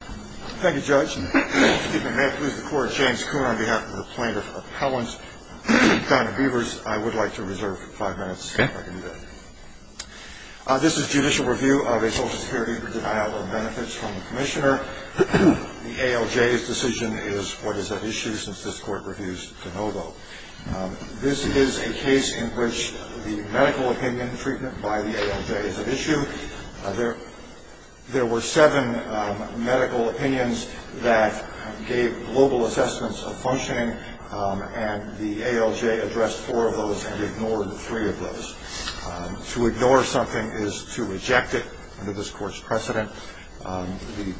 Thank you Judge. May I please record James Kuhn on behalf of the plaintiff's appellant, and Donna Beavers, I would like to reserve five minutes if I can do that. This is judicial review of a social security denial of benefits from the Commissioner. The ALJ's decision is what is at issue since this court reviews de novo. This is a case in which the medical opinion treatment by the ALJ is at issue. There were seven medical opinions that gave global assessments of functioning, and the ALJ addressed four of those and ignored three of those. To ignore something is to reject it under this court's precedent. The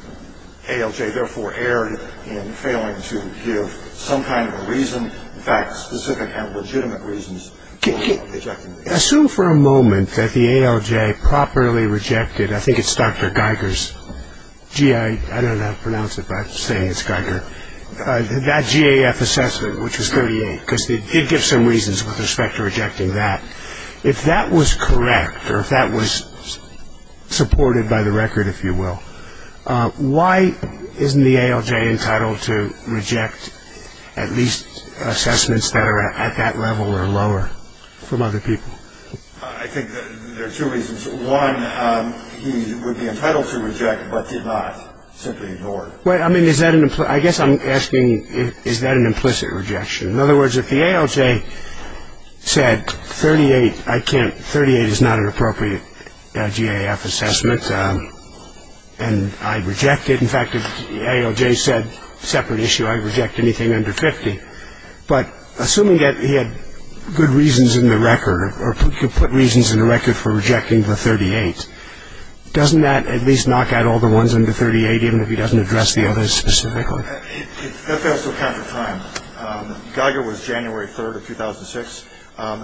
ALJ therefore erred in failing to give some kind of a reason, in fact, specific and legitimate reasons for rejecting the ALJ. Assume for a moment that the ALJ properly rejected, I think it's Dr. Geiger's, gee, I don't know how to pronounce it, but I'm saying it's Geiger, that GAF assessment, which was 38, because they did give some reasons with respect to rejecting that. If that was correct, or if that was supported by the record, if you will, why isn't the ALJ entitled to reject at least assessments that are at that level or lower from other people? I think there are two reasons. One, he would be entitled to reject, but did not, simply ignored. I guess I'm asking is that an implicit rejection? In other words, if the ALJ said 38 is not an appropriate GAF assessment, and I reject it, in fact, if the ALJ said, separate issue, I reject anything under 50, but assuming that he had good reasons in the record, or could put reasons in the record for rejecting the 38, doesn't that at least knock out all the ones under 38, even if he doesn't address the others specifically? That's also a count of time. Geiger was January 3rd of 2006.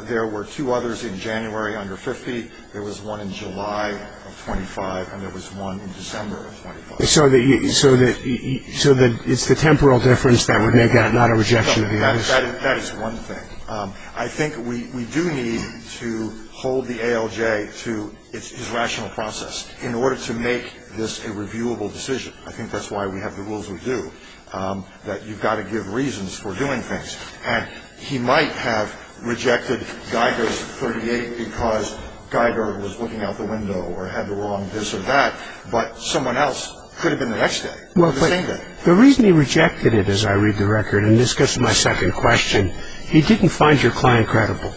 There were two others in January under 50. There was one in July of 25, and there was one in December of 25. So it's the temporal difference that would make that not a rejection of the others? That is one thing. I think we do need to hold the ALJ to its rational process in order to make this a reviewable decision. I think that's why we have the rules we do, that you've got to give reasons for doing things. And he might have rejected Geiger's 38 because Geiger was looking out the window or had the wrong this or that, but someone else could have been the next day, the same day. The reason he rejected it, as I read the record, and this gets to my second question, he didn't find your client credible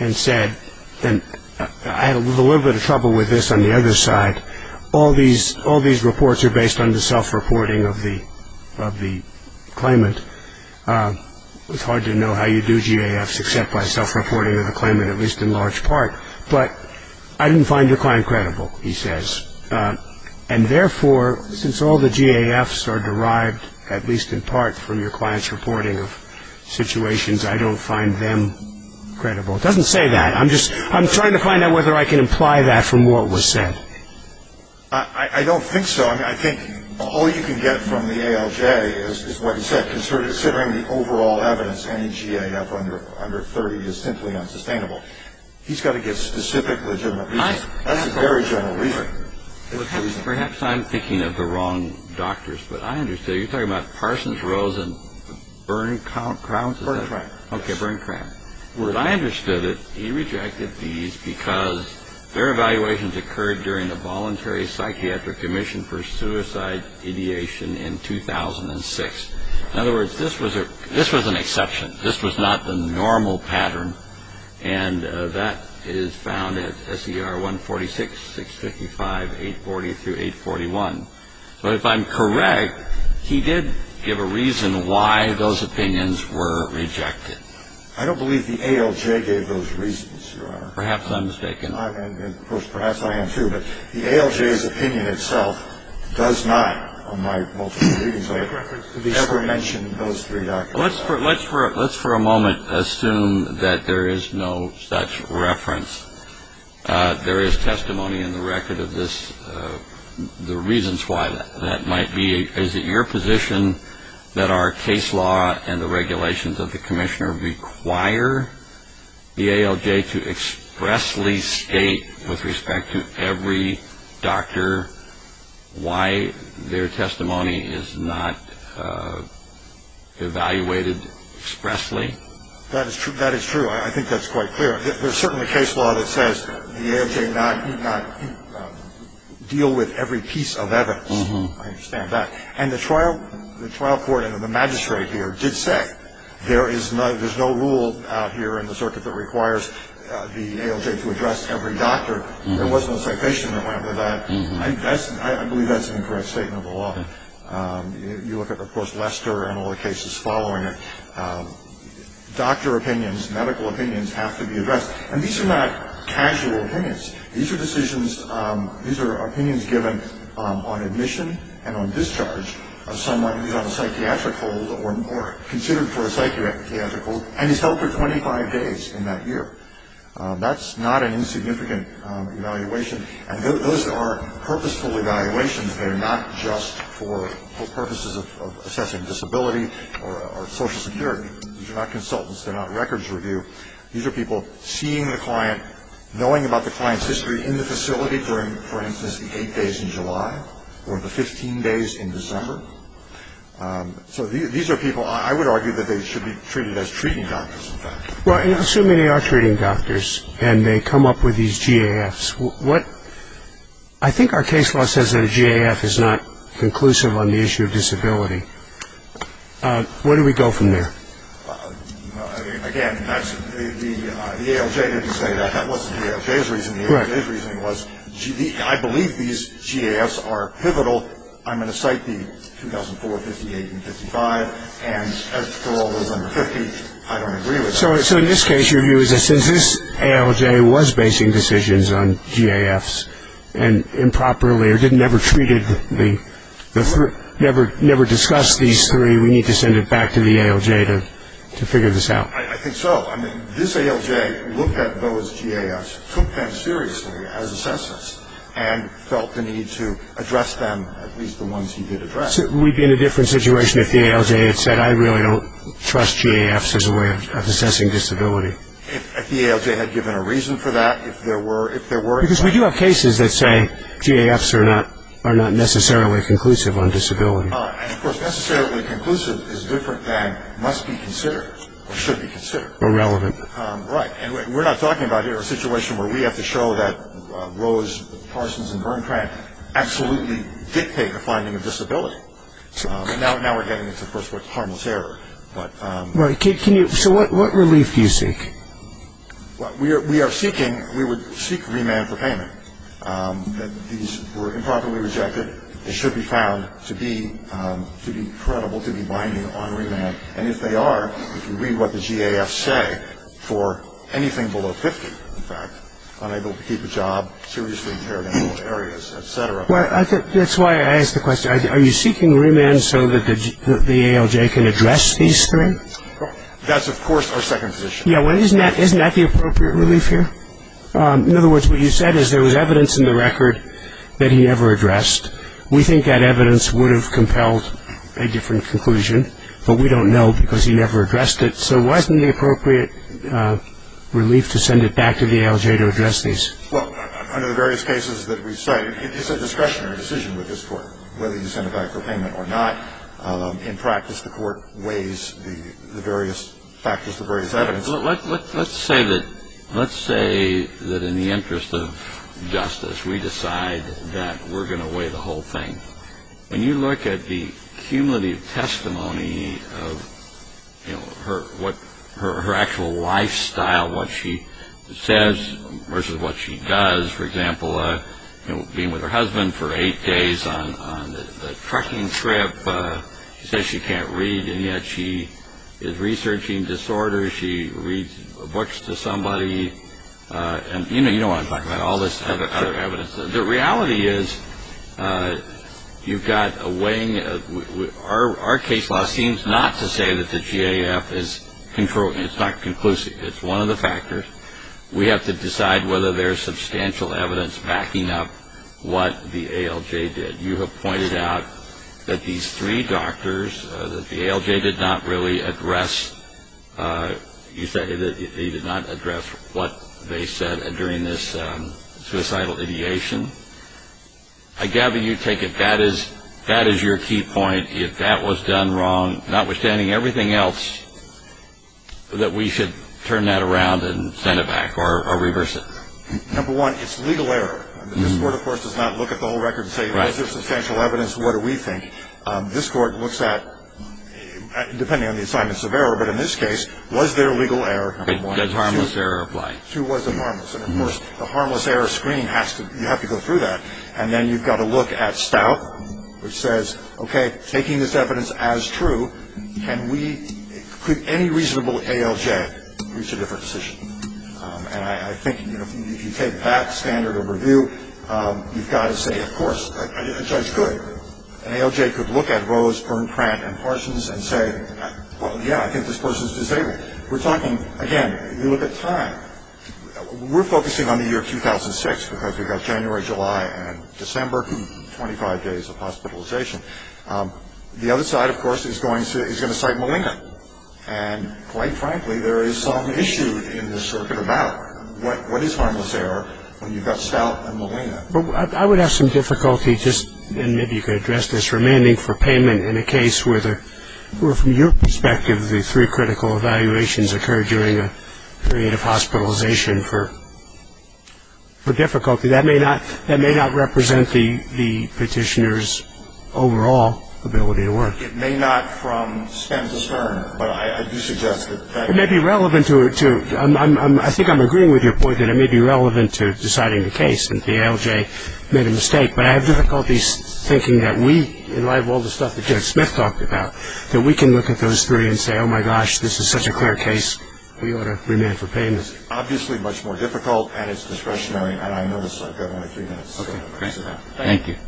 and said, and I had a little bit of trouble with this on the other side, all these reports are based on the self-reporting of the claimant. It's hard to know how you do GAFs except by self-reporting of the claimant, at least in large part. But I didn't find your client credible, he says. And therefore, since all the GAFs are derived, at least in part, from your client's reporting of situations, I don't find them credible. It doesn't say that. I'm just trying to find out whether I can imply that from what was said. I don't think so. I think all you can get from the ALJ is what he said, considering the overall evidence any GAF under 30 is simply unsustainable. He's got to give specific legitimate reasons. That's a very general reason. Perhaps I'm thinking of the wrong doctors, but I understand. You're talking about Parsons, Rose, and Bernkram? Bernkram. Okay, Bernkram. The way I understood it, he rejected these because their evaluations occurred during the Voluntary Psychiatric Commission for Suicide Ideation in 2006. In other words, this was an exception. This was not the normal pattern. And that is found at SER 146, 655, 840 through 841. But if I'm correct, he did give a reason why those opinions were rejected. I don't believe the ALJ gave those reasons, Your Honor. Perhaps I'm mistaken. Perhaps I am, too. But the ALJ's opinion itself does not, on my multiple readings, ever mention those three doctors. Let's for a moment assume that there is no such reference. There is testimony in the record of the reasons why that might be. Is it your position that our case law and the regulations of the commissioner require the ALJ to expressly state, with respect to every doctor, why their testimony is not evaluated expressly? That is true. I think that's quite clear. There's certainly case law that says the ALJ not deal with every piece of evidence. I understand that. And the trial court and the magistrate here did say there is no rule out here in the circuit that requires the ALJ to address every doctor. There was no citation that went with that. I believe that's an incorrect statement of the law. You look at, of course, Lester and all the cases following it. Doctor opinions, medical opinions, have to be addressed. And these are not casual opinions. These are decisions, these are opinions given on admission and on discharge of someone who's on a psychiatric hold or considered for a psychiatric hold and is held for 25 days in that year. That's not an insignificant evaluation. And those are purposeful evaluations. They're not just for purposes of assessing disability or social security. These are not consultants. They're not records review. These are people seeing the client, knowing about the client's history in the facility during, for instance, the eight days in July or the 15 days in December. So these are people I would argue that they should be treated as treating doctors, in fact. Well, assuming they are treating doctors and they come up with these GAFs, I think our case law says that a GAF is not conclusive on the issue of disability. Where do we go from there? Again, the ALJ didn't say that. That wasn't the ALJ's reasoning. The ALJ's reasoning was, I believe these GAFs are pivotal. I'm going to cite the 2004, 58, and 55. And as for all those under 50, I don't agree with that. So in this case, your view is that since this ALJ was basing decisions on GAFs and improperly or never treated the three, never discussed these three, we need to send it back to the ALJ to figure this out. I think so. I mean, this ALJ looked at those GAFs, took them seriously as assessors, and felt the need to address them, at least the ones he did address. So we'd be in a different situation if the ALJ had said, I really don't trust GAFs as a way of assessing disability. If the ALJ had given a reason for that, if there were. Because we do have cases that say GAFs are not necessarily conclusive on disability. And, of course, necessarily conclusive is different than must be considered or should be considered. Or relevant. Right. And we're not talking about here a situation where we have to show that Rose, Parsons, and Bernkranth absolutely dictate the finding of disability. Now we're getting into, of course, what's harmless error. Right. So what relief do you seek? We are seeking, we would seek remand for payment. These were improperly rejected. They should be found to be credible, to be binding on remand. And if they are, if you read what the GAFs say, for anything below 50, in fact, unable to keep a job, seriously impaired in all areas, et cetera. Well, that's why I asked the question. Are you seeking remand so that the ALJ can address these three? That's, of course, our second position. Yeah, well, isn't that the appropriate relief here? In other words, what you said is there was evidence in the record that he never addressed. We think that evidence would have compelled a different conclusion, but we don't know because he never addressed it. So wasn't the appropriate relief to send it back to the ALJ to address these? Well, under the various cases that we cite, it's a discretionary decision with this Court, whether you send it back for payment or not. In practice, the Court weighs the various factors, the various evidence. Let's say that in the interest of justice, we decide that we're going to weigh the whole thing. When you look at the cumulative testimony of her actual lifestyle, what she says versus what she does, for example, being with her husband for eight days on the trucking trip, she says she can't read, and yet she is researching disorders. She reads books to somebody. You know you don't want to talk about all this other evidence. The reality is you've got a weighing. Our case law seems not to say that the GAF is not conclusive. It's one of the factors. We have to decide whether there's substantial evidence backing up what the ALJ did. You have pointed out that these three doctors that the ALJ did not really address. You said that they did not address what they said during this suicidal ideation. I gather you take it that is your key point. If that was done wrong, notwithstanding everything else, that we should turn that around and send it back or reverse it. Number one, it's legal error. This court, of course, does not look at the whole record and say, is there substantial evidence? What do we think? This court looks at, depending on the assignments of error, but in this case, was there legal error? Does harmless error apply? Two, was it harmless? And, of course, the harmless error screen, you have to go through that. And then you've got to look at stout, which says, okay, taking this evidence as true, could any reasonable ALJ reach a different decision? And I think, you know, if you take that standard of review, you've got to say, of course. A judge could. An ALJ could look at Rose, Bernkrant, and Parsons and say, well, yeah, I think this person is disabled. We're talking, again, you look at time. We're focusing on the year 2006 because we've got January, July, and December, 25 days of hospitalization. The other side, of course, is going to cite Malinga. And, quite frankly, there is some issue in the circuit of battle. What is harmless error when you've got stout and Malinga? I would have some difficulty just, and maybe you could address this, remanding for payment in a case where, from your perspective, the three critical evaluations occurred during a period of hospitalization for difficulty. That may not represent the petitioner's overall ability to work. It may not from Spence's turn, but I do suggest that. It may be relevant to, I think I'm agreeing with your point, that it may be relevant to deciding the case that the ALJ made a mistake. But I have difficulties thinking that we, in light of all the stuff that Judge Smith talked about, that we can look at those three and say, oh, my gosh, this is such a clear case. We ought to remand for payment. Obviously much more difficult, and it's discretionary, and I notice I've got only a few minutes. Okay. Thank you. Okay.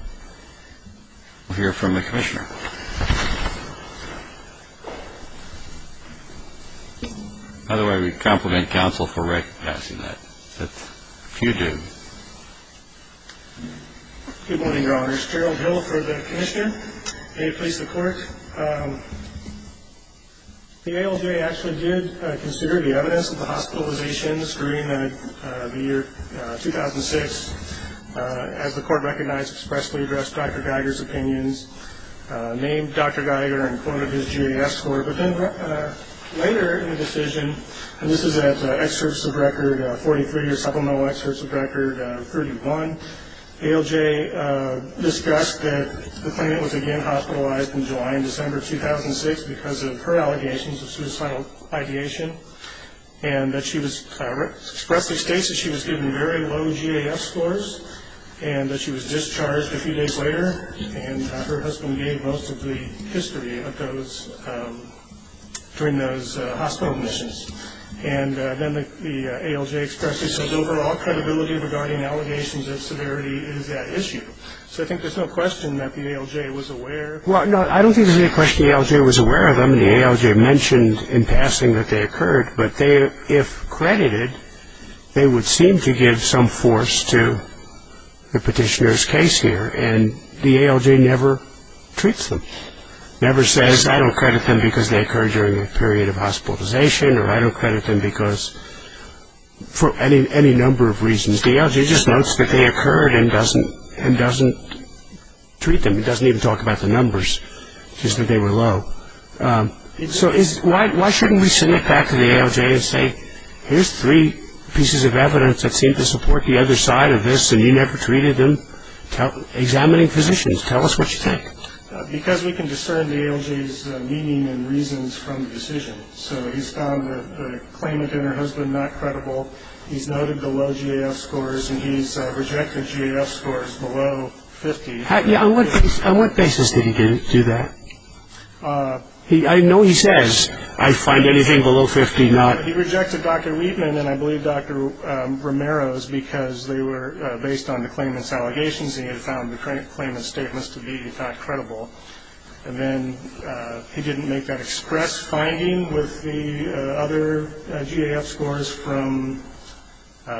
We'll hear from the commissioner. By the way, we compliment counsel for passing that. If you do. Good morning, Your Honors. Gerald Hill for the commissioner. May it please the Court. The ALJ actually did consider the evidence of the hospitalizations during the year 2006. As the Court recognized, expressly addressed Dr. Geiger's opinions, named Dr. Geiger and quoted his GAS score. But then later in the decision, and this is at excerpts of record 43 or supplemental excerpts of record 31, ALJ discussed that the plaintiff was again hospitalized in July and December 2006 because of her allegations of suicidal ideation and that she was, expressly states that she was given very low GAS scores and that she was discharged a few days later and her husband gave most of the history of those, during those hospital admissions. And then the ALJ expressly says overall credibility regarding allegations of severity is at issue. So I think there's no question that the ALJ was aware. Well, no, I don't think there's any question the ALJ was aware of them. And the ALJ mentioned in passing that they occurred. But if credited, they would seem to give some force to the petitioner's case here. And the ALJ never treats them, never says, I don't credit them because they occurred during a period of hospitalization or I don't credit them because, for any number of reasons. The ALJ just notes that they occurred and doesn't treat them. It doesn't even talk about the numbers, just that they were low. So why shouldn't we send it back to the ALJ and say, here's three pieces of evidence that seem to support the other side of this and you never treated them? Examining physicians, tell us what you think. Because we can discern the ALJ's meaning and reasons from the decision. So he's found the claimant and her husband not credible. He's noted the low GAS scores and he's rejected GAS scores below 50. On what basis did he do that? I know he says, I find anything below 50 not. He rejected Dr. Wheatman and I believe Dr. Romero's because they were based on the claimant's allegations and he had found the claimant's statements to be, in fact, credible. And then he didn't make that express finding with the other GAS scores from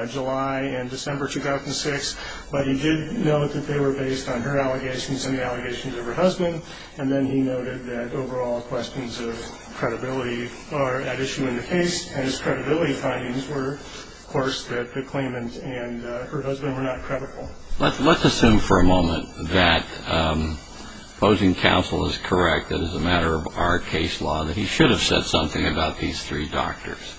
July and December 2006. But he did note that they were based on her allegations and the allegations of her husband. And then he noted that overall questions of credibility are at issue in the case and his credibility findings were, of course, that the claimant and her husband were not credible. Let's assume for a moment that opposing counsel is correct that as a matter of our case law that he should have said something about these three doctors.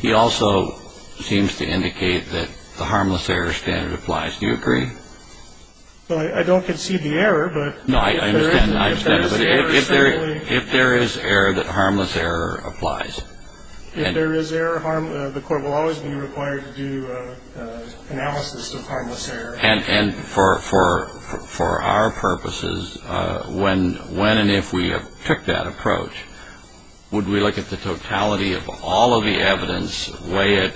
He also seems to indicate that the harmless error standard applies. Do you agree? Well, I don't concede the error, but. No, I understand. If there is error that harmless error applies. If there is error, the court will always be required to do analysis of harmless error. And for our purposes, when and if we have took that approach, would we look at the totality of all of the evidence, weigh it,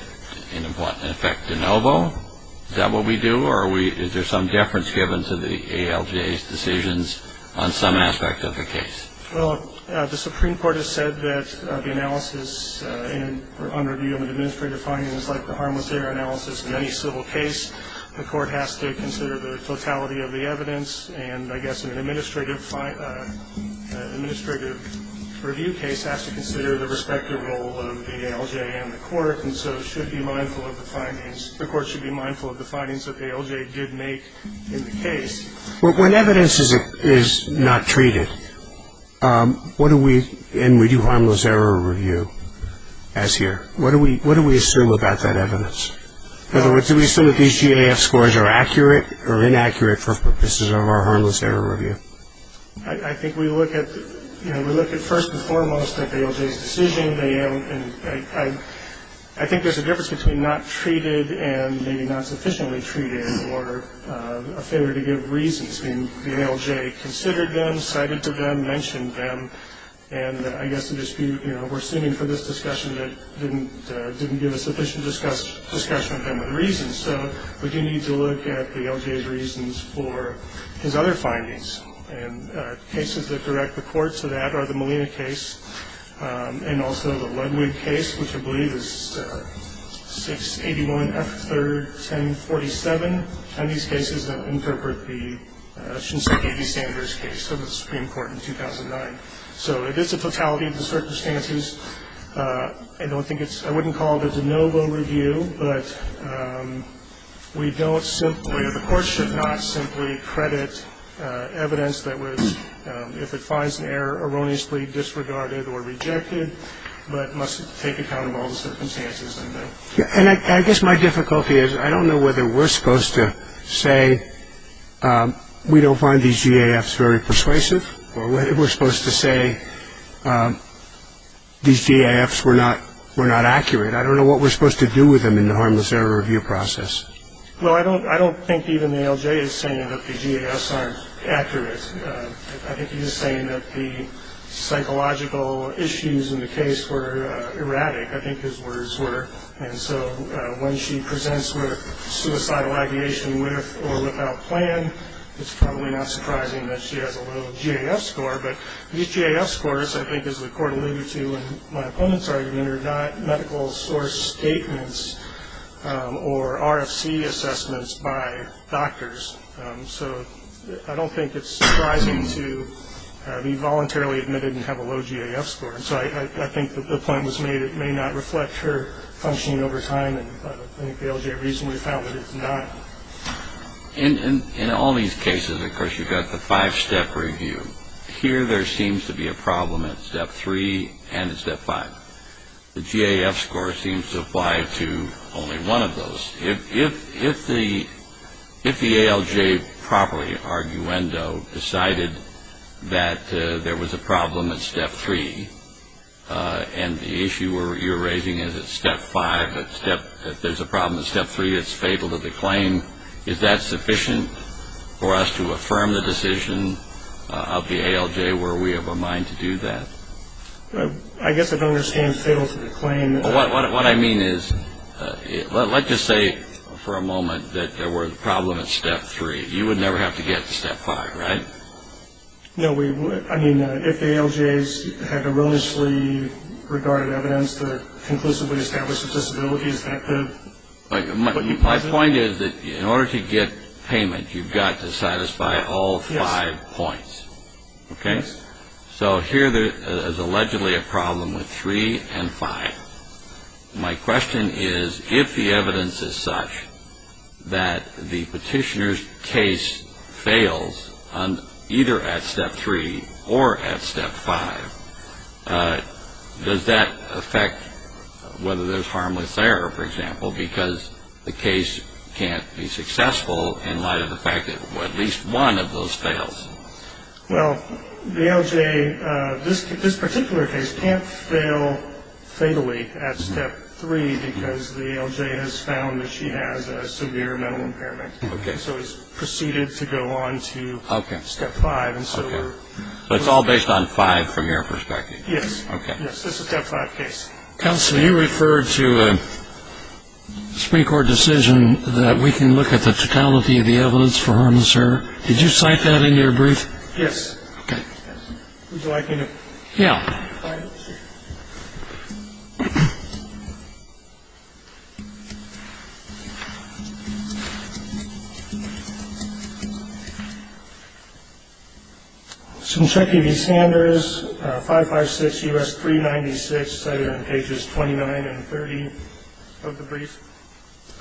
and, in fact, de novo? Is that what we do? Or is there some deference given to the ALGA's decisions on some aspect of the case? Well, the Supreme Court has said that the analysis, on review of an administrative finding is like the harmless error analysis in any civil case. The court has to consider the totality of the evidence, and I guess an administrative review case has to consider the respective role of the ALGA and the court, and so should be mindful of the findings. The court should be mindful of the findings that the ALGA did make in the case. When evidence is not treated, and we do harmless error review as here, what do we assume about that evidence? Do we assume that these GAF scores are accurate or inaccurate for purposes of our harmless error review? I think we look at first and foremost at the ALGA's decision. I think there's a difference between not treated and maybe not sufficiently treated or a failure to give reasons. I mean, the ALGA considered them, cited them, mentioned them, and I guess the dispute, you know, we're suing for this discussion that didn't give a sufficient discussion of them with reasons. So we do need to look at the ALGA's reasons for his other findings, and cases that direct the court to that are the Molina case and also the Ludwig case, which I believe is 681F31047, and these cases that interpret the Shinseki v. Sanders case of the Supreme Court in 2009. So it is a totality of the circumstances. I don't think it's – I wouldn't call it a de novo review, but we don't simply – the court should not simply credit evidence that was, if it finds an error, erroneously disregarded or rejected, but must take account of all the circumstances. And I guess my difficulty is I don't know whether we're supposed to say we don't find these GAFs very persuasive or whether we're supposed to say these GAFs were not accurate. I don't know what we're supposed to do with them in the harmless error review process. Well, I don't think even the ALGA is saying that the GAFs aren't accurate. I think he's saying that the psychological issues in the case were erratic. I think his words were. And so when she presents with suicidal ideation with or without plan, it's probably not surprising that she has a little GAF score. But these GAF scores, I think, as the court alluded to in my opponent's argument, are not medical source statements or RFC assessments by doctors. So I don't think it's surprising to be voluntarily admitted and have a low GAF score. And so I think the point was made it may not reflect her functioning over time, and I think the ALGA reasonably found that it's not. In all these cases, of course, you've got the five-step review. Here there seems to be a problem at step three and at step five. The GAF score seems to apply to only one of those. If the ALGA properly, arguendo, decided that there was a problem at step three and the issue you're raising is at step five, if there's a problem at step three, it's fatal to the claim, is that sufficient for us to affirm the decision of the ALGA? Were we of a mind to do that? What I mean is, let's just say for a moment that there was a problem at step three. You would never have to get to step five, right? No, I mean, if the ALGAs had a willingness to leave regarded evidence that conclusively established the disability is effective. My point is that in order to get payment, you've got to satisfy all five points, okay? So here there is allegedly a problem with three and five. My question is, if the evidence is such that the petitioner's case fails either at step three or at step five, does that affect whether there's harmless error, for example, because the case can't be successful in light of the fact that at least one of those fails? Well, the ALGA, this particular case, can't fail fatally at step three because the ALGA has found that she has a severe mental impairment. Okay. So it's proceeded to go on to step five. Okay. So it's all based on five from your perspective? Yes. Okay. Yes, this is step five case. Counsel, you referred to Supreme Court decision that we can look at the totality of the evidence for harmless error. Did you cite that in your brief? Yes. Okay. Would you like me to? Yeah. All right. Thank you.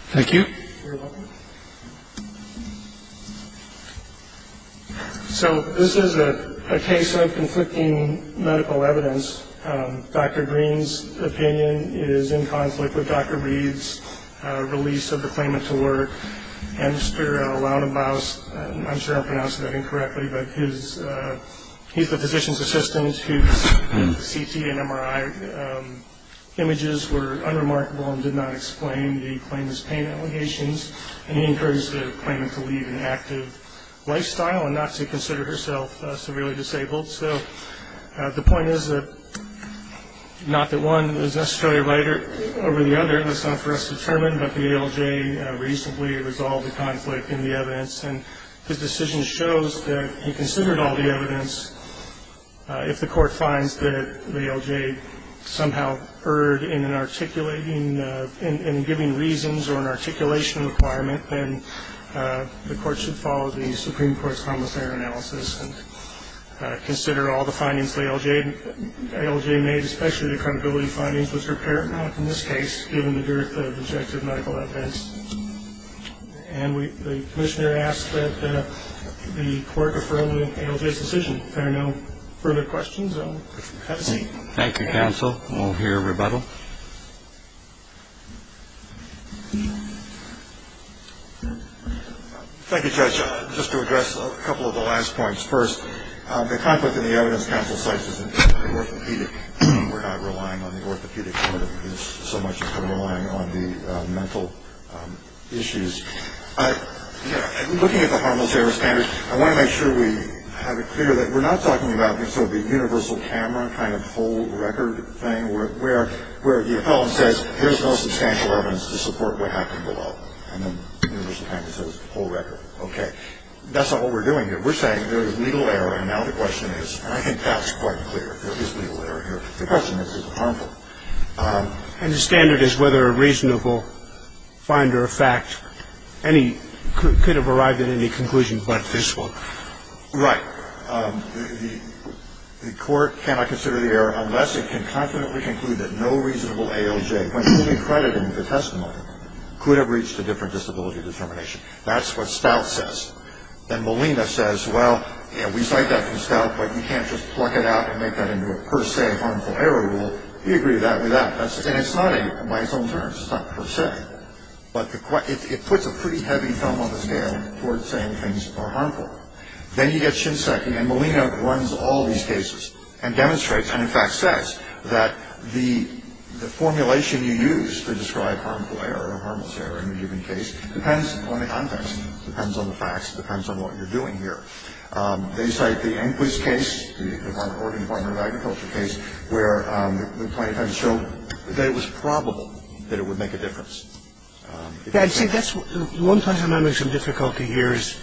Thank you. You're welcome. So this is a case of conflicting medical evidence. Dr. Green's opinion is in conflict with Dr. Reed's release of the claimant to work, and Mr. Lautenbaus, I'm sure I'm pronouncing that incorrectly, but he's the physician's assistant whose CT and MRI images were unremarkable and did not explain the claimant's pain allegations, and he encourages the claimant to lead an active lifestyle and not to consider herself severely disabled. So the point is that not that one is necessarily right over the other. That's not for us to determine, but the ALJ reasonably resolved the conflict in the evidence, and his decision shows that he considered all the evidence. If the court finds that the ALJ somehow erred in an articulating and giving reasons or an articulation requirement, then the court should follow the Supreme Court's harmless error analysis and consider all the findings the ALJ made, especially the credibility findings which are paramount in this case, given the dearth of objective medical evidence. And the commissioner asks that the court affirm the ALJ's decision. If there are no further questions, I'll have a seat. Thank you, counsel. We'll hear rebuttal. Thank you, Judge. Just to address a couple of the last points. First, the conflict in the evidence counsel cites is an orthopedic. We're not relying on the orthopedic motive, so much as we're relying on the mental issues. Looking at the harmless error standards, I want to make sure we have it clear that we're not talking about sort of the universal camera kind of whole record thing where the appellant says there's no substantial evidence to support what happened below, and then the universal camera says whole record. Okay. That's not what we're doing here. We're saying there is legal error, and now the question is, I think that's quite clear. There is legal error here. The question is, is it harmful? And the standard is whether a reasonable finder of fact could have arrived at any conclusion but this one. Right. The court cannot consider the error unless it can confidently conclude that no reasonable ALJ, when fully crediting the testimony, could have reached a different disability determination. That's what Stout says. Then Molina says, well, we cite that from Stout, but you can't just pluck it out and make that into a per se harmful error rule. We agree with that. And it's not, by its own terms, it's not per se, but it puts a pretty heavy thumb on the scale towards saying things are harmful. Then you get Shinseki, and Molina runs all these cases and demonstrates and in fact says that the formulation you use to describe harmful error depends on the context, depends on the facts, depends on what you're doing here. They cite the Enquist case, the Oregon Department of Agriculture case, where they showed that it was probable that it would make a difference. See, that's one place I'm having some difficulty here is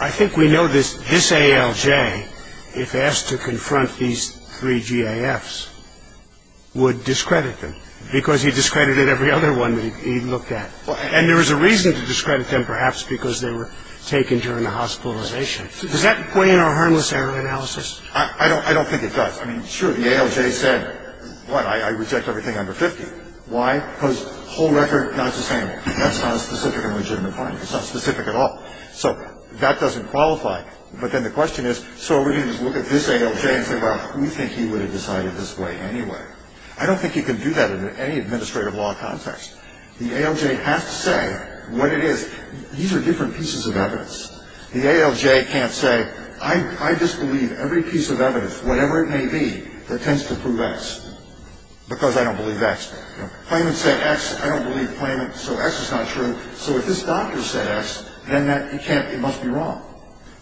I think we know this ALJ, if asked to confront these three GAFs, would discredit them, because he discredited every other one that he looked at. And there was a reason to discredit them, perhaps, because they were taken during the hospitalization. Does that point in our harmless error analysis? I don't think it does. I mean, sure, the ALJ said, what, I reject everything under 50. Why? Because the whole record is not the same. That's not a specific and legitimate finding. It's not specific at all. So that doesn't qualify. But then the question is, so are we going to just look at this ALJ and say, well, we think he would have decided this way anyway. I don't think you can do that in any administrative law context. The ALJ has to say what it is. These are different pieces of evidence. The ALJ can't say, I just believe every piece of evidence, whatever it may be, that tends to prove X, because I don't believe X. Claimants say X, I don't believe claimant, so X is not true. So if this doctor said X, then it must be wrong.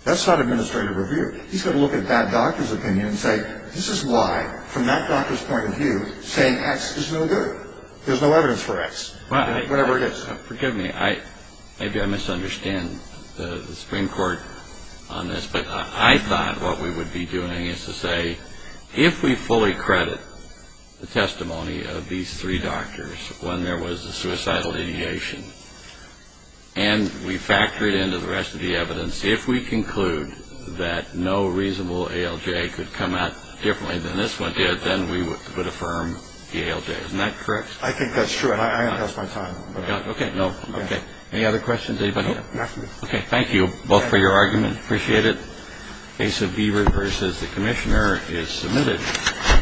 That's not administrative review. He's got to look at that doctor's opinion and say, this is why, from that doctor's point of view, saying X is no good. There's no evidence for X, whatever it is. Forgive me. Maybe I misunderstand the Supreme Court on this, but I thought what we would be doing is to say, if we fully credit the testimony of these three doctors when there was a suicidal ideation and we factor it into the rest of the evidence, if we conclude that no reasonable ALJ could come out differently than this one did, then we would affirm the ALJ. Isn't that correct? I think that's true. I haven't lost my time. Okay. Any other questions? Nope. Nothing. Okay. Thank you both for your argument. Appreciate it. Case of Beaver v. The Commissioner is submitted.